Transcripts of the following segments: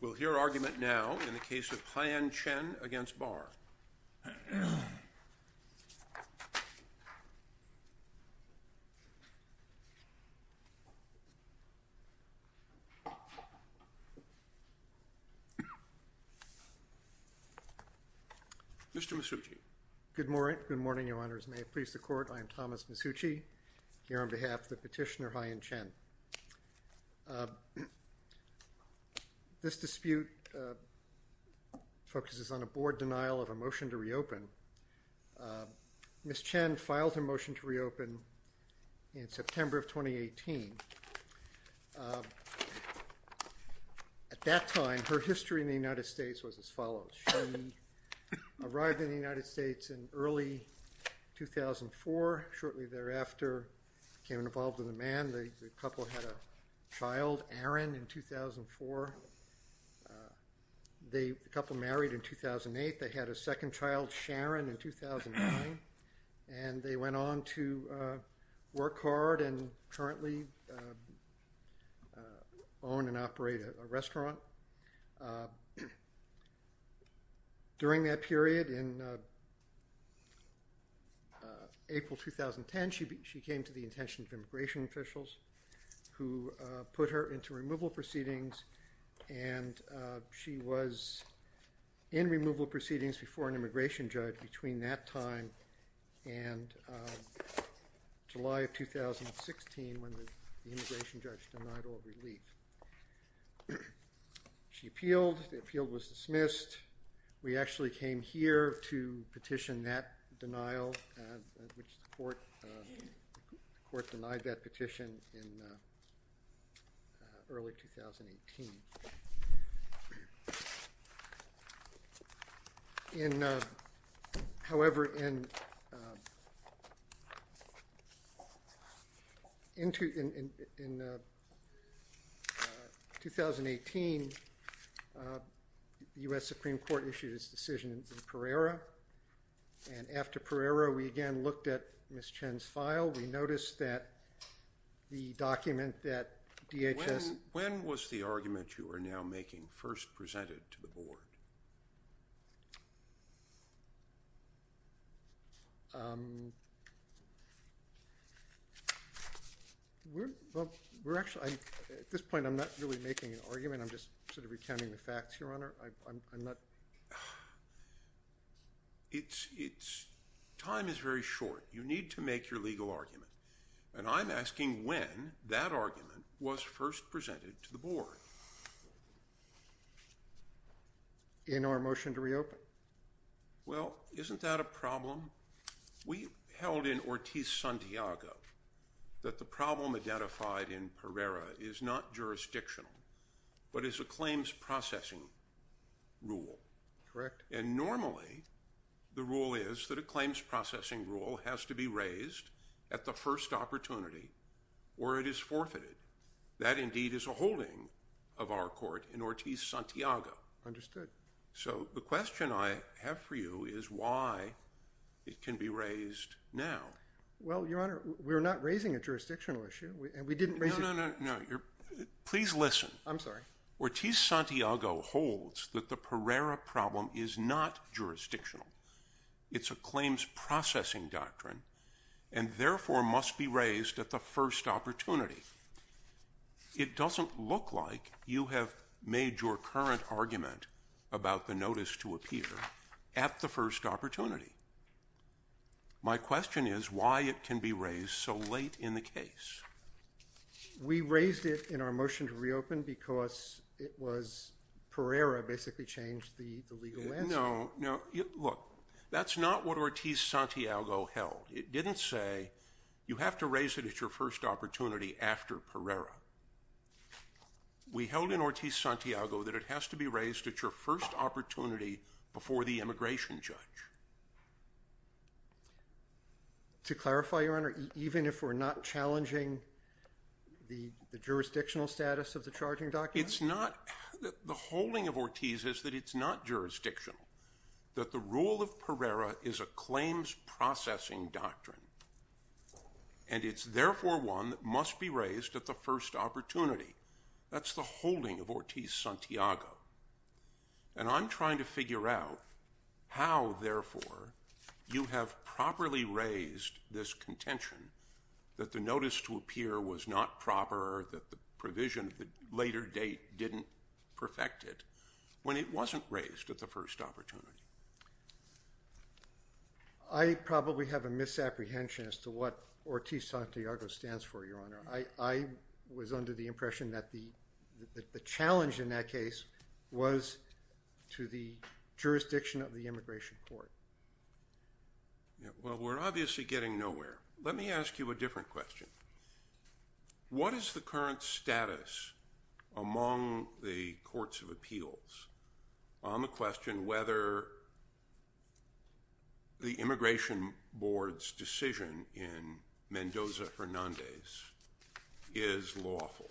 We'll hear argument now in the case of Haiyan Chen v. Barr. Mr. Misucci. Good morning, Your Honors. May it please the Court, I am Thomas Misucci, here on behalf of the petitioner Haiyan Chen. This dispute focuses on a Board denial of a motion to reopen. Ms. Chen filed her motion to reopen in September of 2018. At that time, her history in the United States was as follows. She arrived in the United States in early 2004. Shortly thereafter, became involved with a man. The couple had a child, Aaron, in 2004. The couple married in 2008. They had a second child, Sharon, in 2009. And they went on to work hard and currently own and operate a restaurant. During that period, in April 2010, she came to the attention of immigration officials who put her into removal proceedings. She was in removal proceedings before an immigration judge between that time and July of 2016, when the immigration judge denied all relief. She appealed. The appeal was dismissed. We actually came here to petition that denial, which the Court denied that petition in early 2018. However, in 2018, the U.S. Supreme Court issued its decision in Pereira. And after Pereira, we again looked at Ms. Chen's file. We noticed that the document that DHS – When was the argument you are now making first presented to the Board? We're – well, we're actually – at this point, I'm not really making an argument. I'm just sort of recounting the facts, Your Honor. I'm not – It's – time is very short. You need to make your legal argument. And I'm asking when that argument was first presented to the Board. In our motion to reopen? Well, isn't that a problem? We held in Ortiz-Santiago that the problem identified in Pereira is not jurisdictional, but is a claims processing rule. Correct. And normally, the rule is that a claims processing rule has to be raised at the first opportunity, or it is forfeited. That, indeed, is a holding of our court in Ortiz-Santiago. Understood. So the question I have for you is why it can be raised now. Well, Your Honor, we're not raising a jurisdictional issue, and we didn't raise it – No, no, no, no. Please listen. I'm sorry. Ortiz-Santiago holds that the Pereira problem is not jurisdictional. It's a claims processing doctrine, and therefore must be raised at the first opportunity. It doesn't look like you have made your current argument about the notice to appear at the first opportunity. My question is why it can be raised so late in the case. We raised it in our motion to reopen because it was – Pereira basically changed the legal landscape. No, no. Look, that's not what Ortiz-Santiago held. It didn't say you have to raise it at your first opportunity after Pereira. We held in Ortiz-Santiago that it has to be raised at your first opportunity before the immigration judge. To clarify, Your Honor, even if we're not challenging the jurisdictional status of the charging doctrine? It's not – the holding of Ortiz is that it's not jurisdictional, that the rule of Pereira is a claims processing doctrine, and it's therefore one that must be raised at the first opportunity. That's the holding of Ortiz-Santiago. And I'm trying to figure out how, therefore, you have properly raised this contention that the notice to appear was not proper, that the provision of the later date didn't perfect it, when it wasn't raised at the first opportunity. I probably have a misapprehension as to what Ortiz-Santiago stands for, Your Honor. I was under the impression that the challenge in that case was to the jurisdiction of the immigration court. Well, we're obviously getting nowhere. Let me ask you a different question. What is the current status among the courts of appeals on the question whether the Immigration Board's decision in Mendoza-Hernandez is lawful?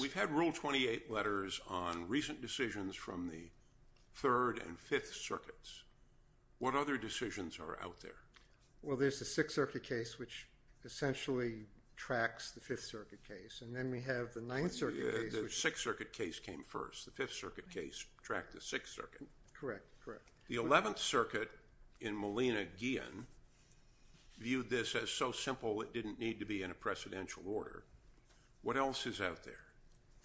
We've had Rule 28 letters on recent decisions from the Third and Fifth Circuits. What other decisions are out there? Well, there's the Sixth Circuit case, which essentially tracks the Fifth Circuit case, and then we have the Ninth Circuit case. The Sixth Circuit case came first. The Fifth Circuit case tracked the Sixth Circuit. Correct, correct. The Eleventh Circuit in Molina-Ghion viewed this as so simple it didn't need to be in a precedential order. What else is out there?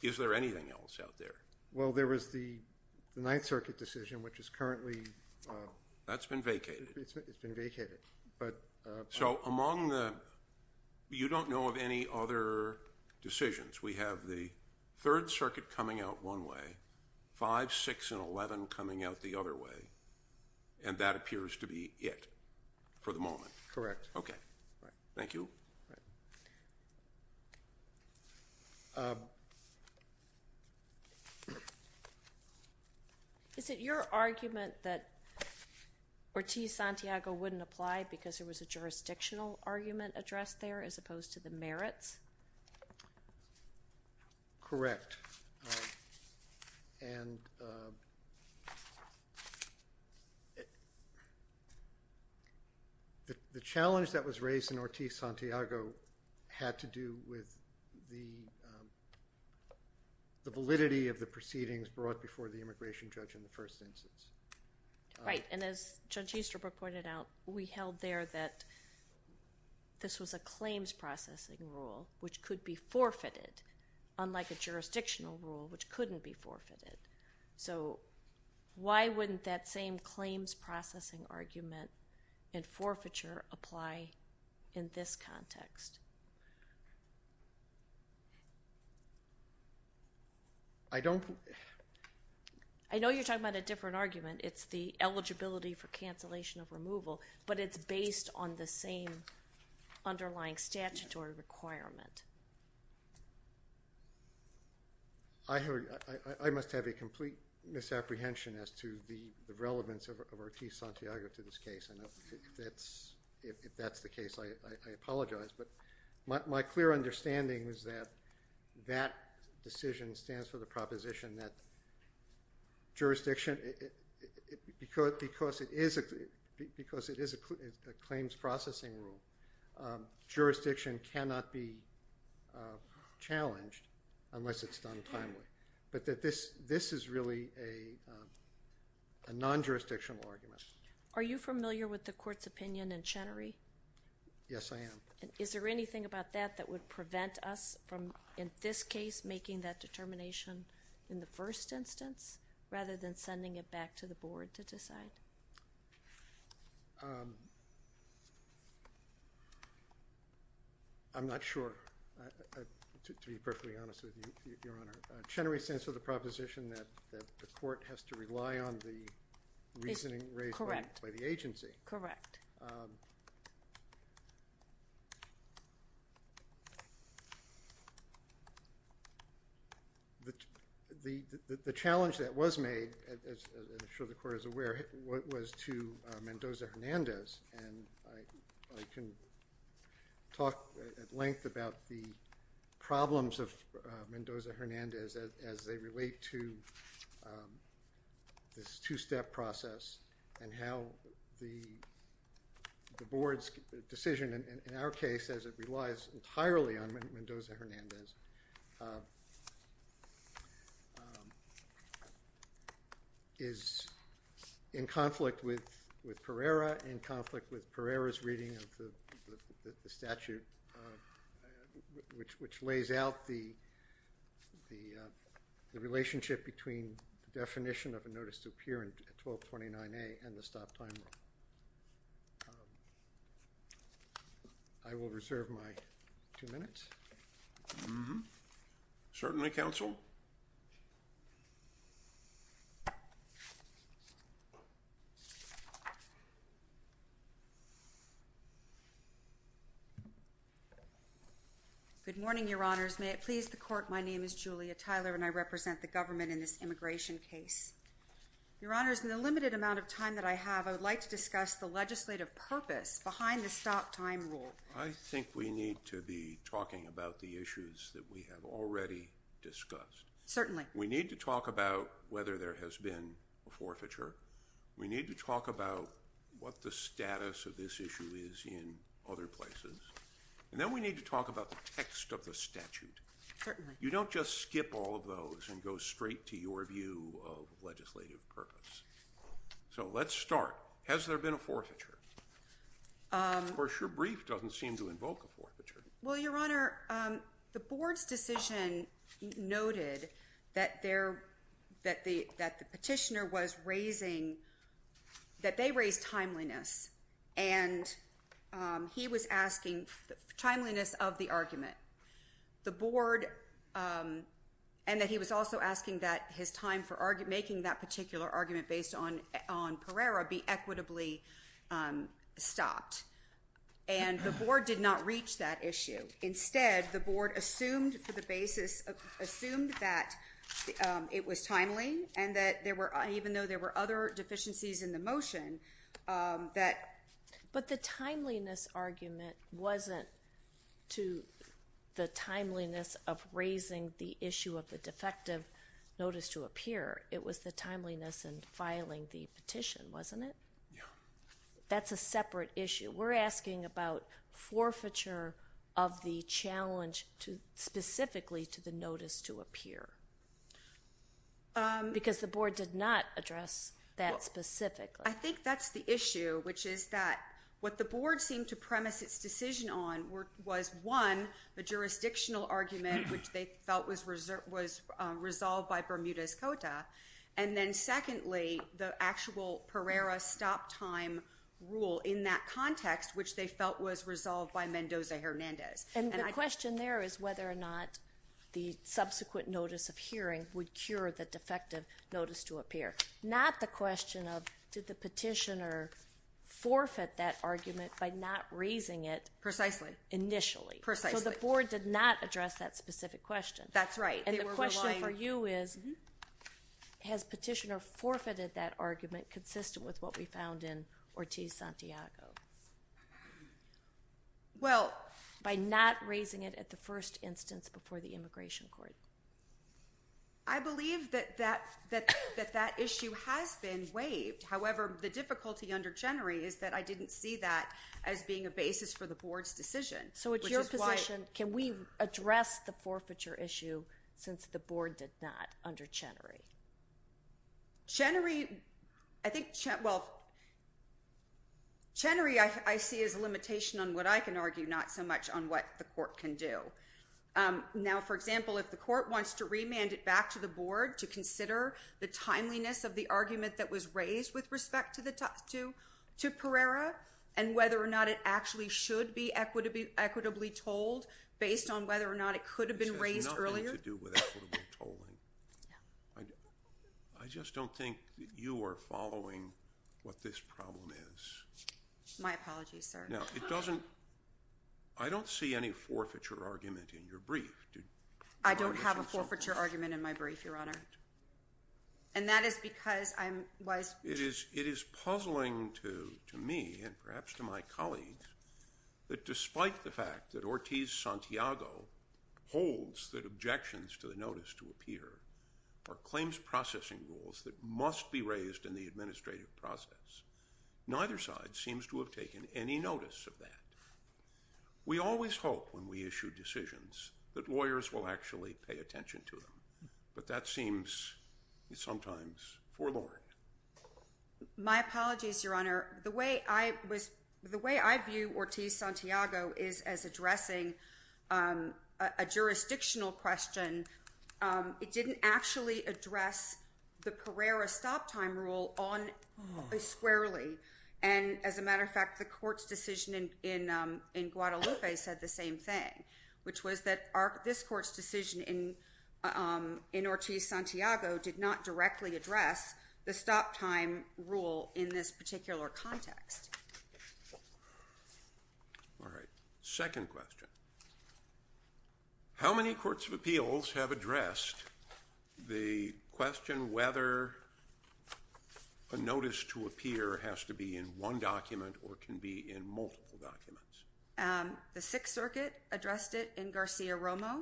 Is there anything else out there? Well, there was the Ninth Circuit decision, which is currently… That's been vacated. It's been vacated. So among the – you don't know of any other decisions. We have the Third Circuit coming out one way, Five, Six, and Eleven coming out the other way, and that appears to be it for the moment. Correct. Okay. Thank you. Is it your argument that Ortiz-Santiago wouldn't apply because there was a jurisdictional argument addressed there as opposed to the merits? Correct. And the challenge that was raised in Ortiz-Santiago had to do with the validity of the proceedings brought before the immigration judge in the first instance. Right, and as Judge Easterbrook pointed out, we held there that this was a claims processing rule, which could be forfeited, unlike a jurisdictional rule, which couldn't be forfeited. So why wouldn't that same claims processing argument and forfeiture apply in this context? I don't… I know you're talking about a different argument. It's the eligibility for cancellation of removal, but it's based on the same underlying statutory requirement. I must have a complete misapprehension as to the relevance of Ortiz-Santiago to this case, and if that's the case, I apologize. But my clear understanding is that that decision stands for the proposition that jurisdiction, because it is a claims processing rule, jurisdiction cannot be challenged unless it's done timely, but that this is really a non-jurisdictional argument. Are you familiar with the Court's opinion in Chenery? Yes, I am. Is there anything about that that would prevent us from, in this case, making that determination in the first instance rather than sending it back to the Board to decide? I'm not sure, to be perfectly honest with you, Your Honor. Chenery stands for the proposition that the Court has to rely on the reasoning raised by the agency. Correct. The challenge that was made, as I'm sure the Court is aware, was to Mendoza-Hernandez, and I can talk at length about the problems of Mendoza-Hernandez as they relate to this two-step process and how the Board's decision, in our case, as it relies entirely on Mendoza-Hernandez, is in conflict with Pereira, in conflict with Pereira's reading of the statute, which lays out the relationship between the definition of a notice to appear in 1229A and the stop time. I will reserve my two minutes. Certainly, counsel. Good morning, Your Honors. May it please the Court, my name is Julia Tyler, and I represent the government in this immigration case. Your Honors, in the limited amount of time that I have, I would like to discuss the legislative purpose behind the stop time rule. I think we need to be talking about the issues that we have already discussed. Certainly. We need to talk about whether there has been a forfeiture. We need to talk about what the status of this issue is in other places. And then we need to talk about the text of the statute. Certainly. You don't just skip all of those and go straight to your view of legislative purpose. So let's start. Has there been a forfeiture? Of course, your brief doesn't seem to invoke a forfeiture. Well, Your Honor, the board's decision noted that the petitioner was raising, that they raised timeliness. And he was asking timeliness of the argument. The board, and that he was also asking that his time for making that particular argument based on Pereira be equitably stopped. And the board did not reach that issue. Instead, the board assumed for the basis, assumed that it was timely and that there were, even though there were other deficiencies in the motion, that. But the timeliness argument wasn't to the timeliness of raising the issue of the defective notice to appear. It was the timeliness and filing the petition, wasn't it? Yeah. That's a separate issue. We're asking about forfeiture of the challenge specifically to the notice to appear. Because the board did not address that specifically. I think that's the issue, which is that what the board seemed to premise its decision on was, one, the jurisdictional argument, which they felt was resolved by Bermuda's Cota. And then secondly, the actual Pereira stop time rule in that context, which they felt was resolved by Mendoza-Hernandez. And the question there is whether or not the subsequent notice of hearing would cure the defective notice to appear. Not the question of did the petitioner forfeit that argument by not raising it. Precisely. Initially. Precisely. So the board did not address that specific question. That's right. And the question for you is, has petitioner forfeited that argument consistent with what we found in Ortiz-Santiago? Well. By not raising it at the first instance before the immigration court. I believe that that issue has been waived. However, the difficulty under Chenery is that I didn't see that as being a basis for the board's decision. So it's your position, can we address the forfeiture issue since the board did not under Chenery? Chenery, I think, well, Chenery I see as a limitation on what I can argue, not so much on what the court can do. Now, for example, if the court wants to remand it back to the board to consider the timeliness of the argument that was raised with respect to Pereira, and whether or not it actually should be equitably told based on whether or not it could have been raised earlier. This has nothing to do with equitable tolling. I just don't think you are following what this problem is. My apologies, sir. I don't see any forfeiture argument in your brief. I don't have a forfeiture argument in my brief, Your Honor. And that is because I'm wise. It is puzzling to me and perhaps to my colleagues that despite the fact that Ortiz-Santiago holds that objections to the notice to appear are claims processing rules that must be raised in the administrative process, neither side seems to have taken any notice of that. We always hope when we issue decisions that lawyers will actually pay attention to them, but that seems sometimes forlorn. My apologies, Your Honor. The way I view Ortiz-Santiago is as addressing a jurisdictional question. It didn't actually address the Pereira stop time rule on a squarely. And as a matter of fact, the court's decision in Guadalupe said the same thing, which was that this court's decision in Ortiz-Santiago did not directly address the stop time rule in this particular context. All right. Second question. How many courts of appeals have addressed the question whether a notice to appear has to be in one document or can be in multiple documents? The Sixth Circuit addressed it in Garcia-Romo.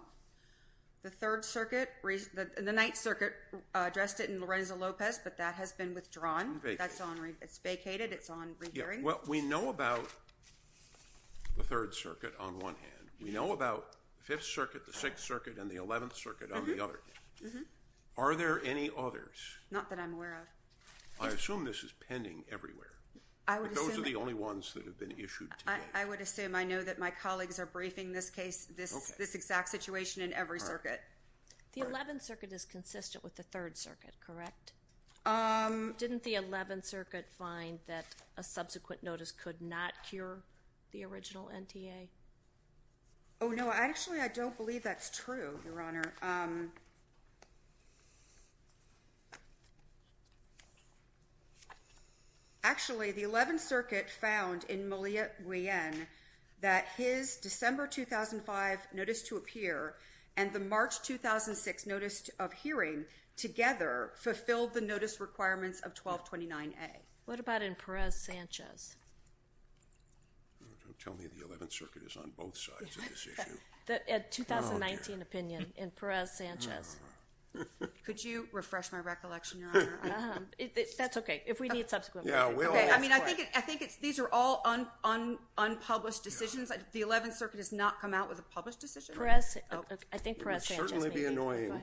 The Third Circuit, the Ninth Circuit addressed it in Lorenzo Lopez, but that has been withdrawn. It's vacated. It's on re-hearing. Well, we know about the Third Circuit on one hand. We know about the Fifth Circuit, the Sixth Circuit, and the Eleventh Circuit on the other. Are there any others? Not that I'm aware of. I assume this is pending everywhere. I would assume. But those are the only ones that have been issued today. I would assume. I know that my colleagues are briefing this case, this exact situation in every circuit. The Eleventh Circuit is consistent with the Third Circuit, correct? Didn't the Eleventh Circuit find that a subsequent notice could not cure the original NTA? Oh, no. Actually, I don't believe that's true, Your Honor. Actually, the Eleventh Circuit found in Moliere that his December 2005 notice to appear and the March 2006 notice of hearing together fulfilled the notice requirements of 1229A. What about in Perez-Sanchez? Don't tell me the Eleventh Circuit is on both sides of this issue. The 2019 opinion in Perez-Sanchez. Could you refresh my recollection, Your Honor? That's okay. If we need subsequent— Yeah, we'll ask for it. I think these are all unpublished decisions. The Eleventh Circuit has not come out with a published decision? Perez—I think Perez-Sanchez— It would certainly be annoying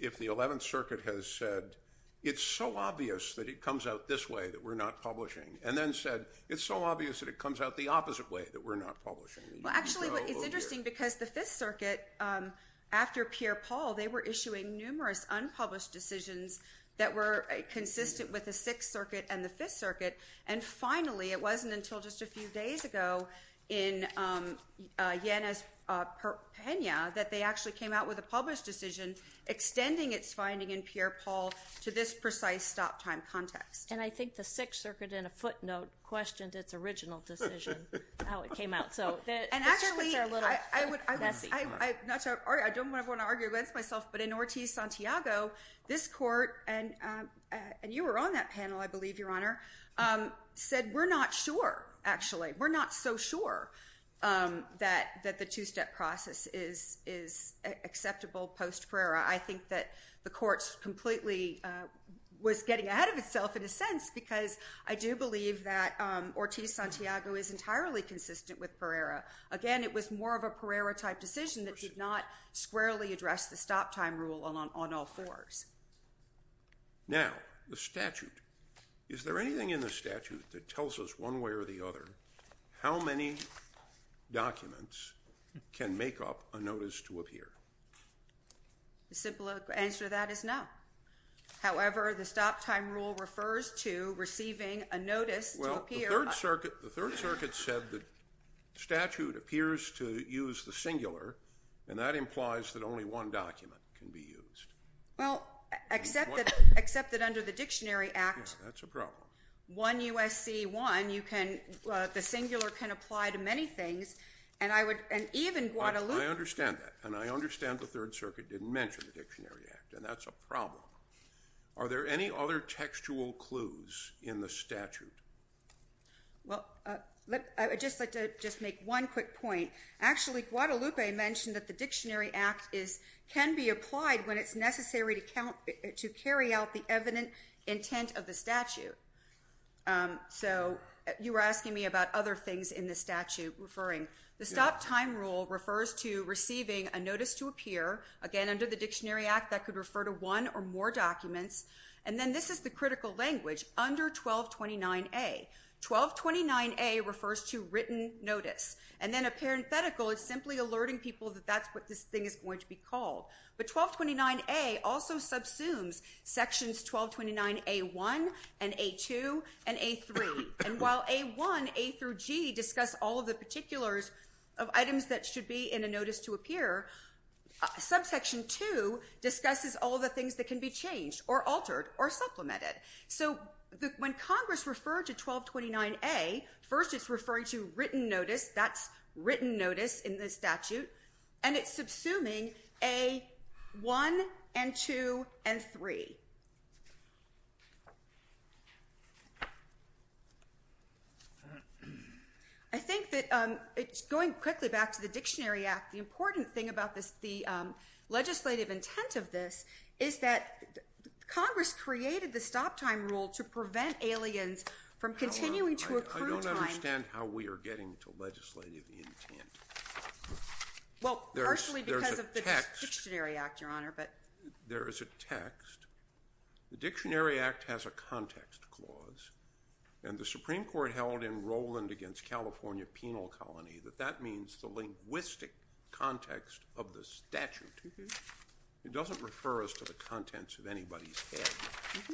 if the Eleventh Circuit has said, it's so obvious that it comes out this way that we're not publishing, and then said, it's so obvious that it comes out the opposite way that we're not publishing. Well, actually, it's interesting because the Fifth Circuit, after Pierre-Paul, they were issuing numerous unpublished decisions that were consistent with the Sixth Circuit and the Fifth Circuit. And finally, it wasn't until just a few days ago in Yanez-Pena that they actually came out with a published decision extending its finding in Pierre-Paul to this precise stop-time context. And I think the Sixth Circuit, in a footnote, questioned its original decision, how it came out. And actually, I don't want to argue against myself, but in Ortiz-Santiago, this Court—and you were on that panel, I believe, Your Honor— said, we're not sure, actually. We're not so sure that the two-step process is acceptable post-Perera. I think that the Court completely was getting ahead of itself, in a sense, because I do believe that Ortiz-Santiago is entirely consistent with Perera. Again, it was more of a Perera-type decision that did not squarely address the stop-time rule on all fours. Now, the statute. Is there anything in the statute that tells us, one way or the other, how many documents can make up a notice to appear? The simple answer to that is no. However, the stop-time rule refers to receiving a notice to appear— Well, the Third Circuit said the statute appears to use the singular, and that implies that only one document can be used. Well, except that under the Dictionary Act— Yeah, that's a problem. 1 U.S.C. 1, the singular can apply to many things, and even Guadalupe— I understand that, and I understand the Third Circuit didn't mention the Dictionary Act, and that's a problem. Are there any other textual clues in the statute? Well, I'd just like to make one quick point. Actually, Guadalupe mentioned that the Dictionary Act can be applied when it's necessary to carry out the evident intent of the statute. So you were asking me about other things in the statute. The stop-time rule refers to receiving a notice to appear. Again, under the Dictionary Act, that could refer to one or more documents. And then this is the critical language, under 1229A. 1229A refers to written notice, and then a parenthetical is simply alerting people that that's what this thing is going to be called. But 1229A also subsumes sections 1229A1 and A2 and A3. And while A1, A through G, discuss all of the particulars of items that should be in a notice to appear, subsection 2 discusses all of the things that can be changed or altered or supplemented. So when Congress referred to 1229A, first it's referring to written notice, that's written notice in the statute, and it's subsuming A1 and 2 and 3. I think that going quickly back to the Dictionary Act, the important thing about the legislative intent of this is that Congress created the stop-time rule to prevent aliens from continuing to occur in time. I don't understand how we are getting to legislative intent. Well, partially because of the Dictionary Act, Your Honor. There is a text. The Dictionary Act has a context clause, and the Supreme Court held in Roland against California Penal Colony that that means the linguistic context of the statute. It doesn't refer us to the contents of anybody's head.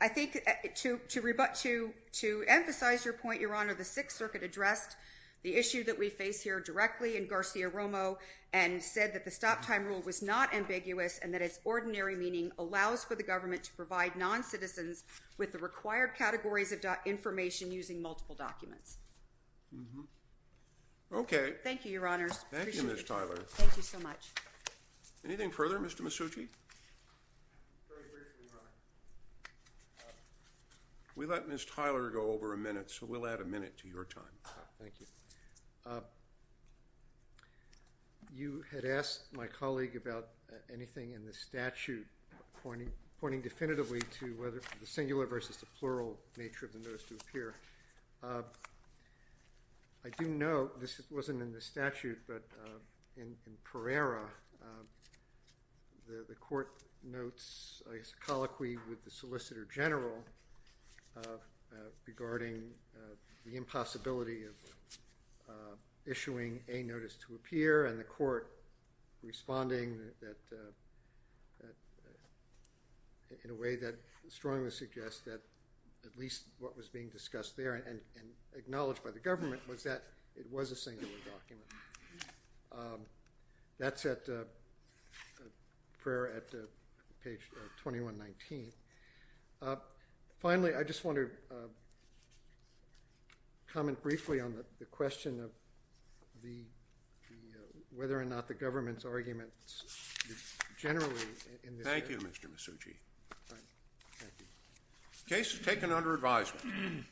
I think to emphasize your point, Your Honor, the Sixth Circuit addressed the issue that we face here directly in Garcia-Romo and said that the stop-time rule was not ambiguous and that its ordinary meaning allows for the government to provide non-citizens with the required categories of information using multiple documents. Okay. Thank you, Your Honors. Thank you, Ms. Tyler. Thank you so much. Anything further, Mr. Masucci? We let Ms. Tyler go over a minute, so we'll add a minute to your time. Thank you. You had asked my colleague about anything in the statute pointing definitively to whether the singular versus the plural nature of the notice to appear. I do know this wasn't in the statute, but in Pereira, the Court notes a colloquy with the Solicitor General regarding the possibility of issuing a notice to appear and the Court responding in a way that strongly suggests that at least what was being discussed there and acknowledged by the government was that it was a singular document. That's at Pereira at page 2119. Finally, I just want to comment briefly on the question of whether or not the government's arguments generally in this case. Thank you, Mr. Masucci. The case is taken under advisement.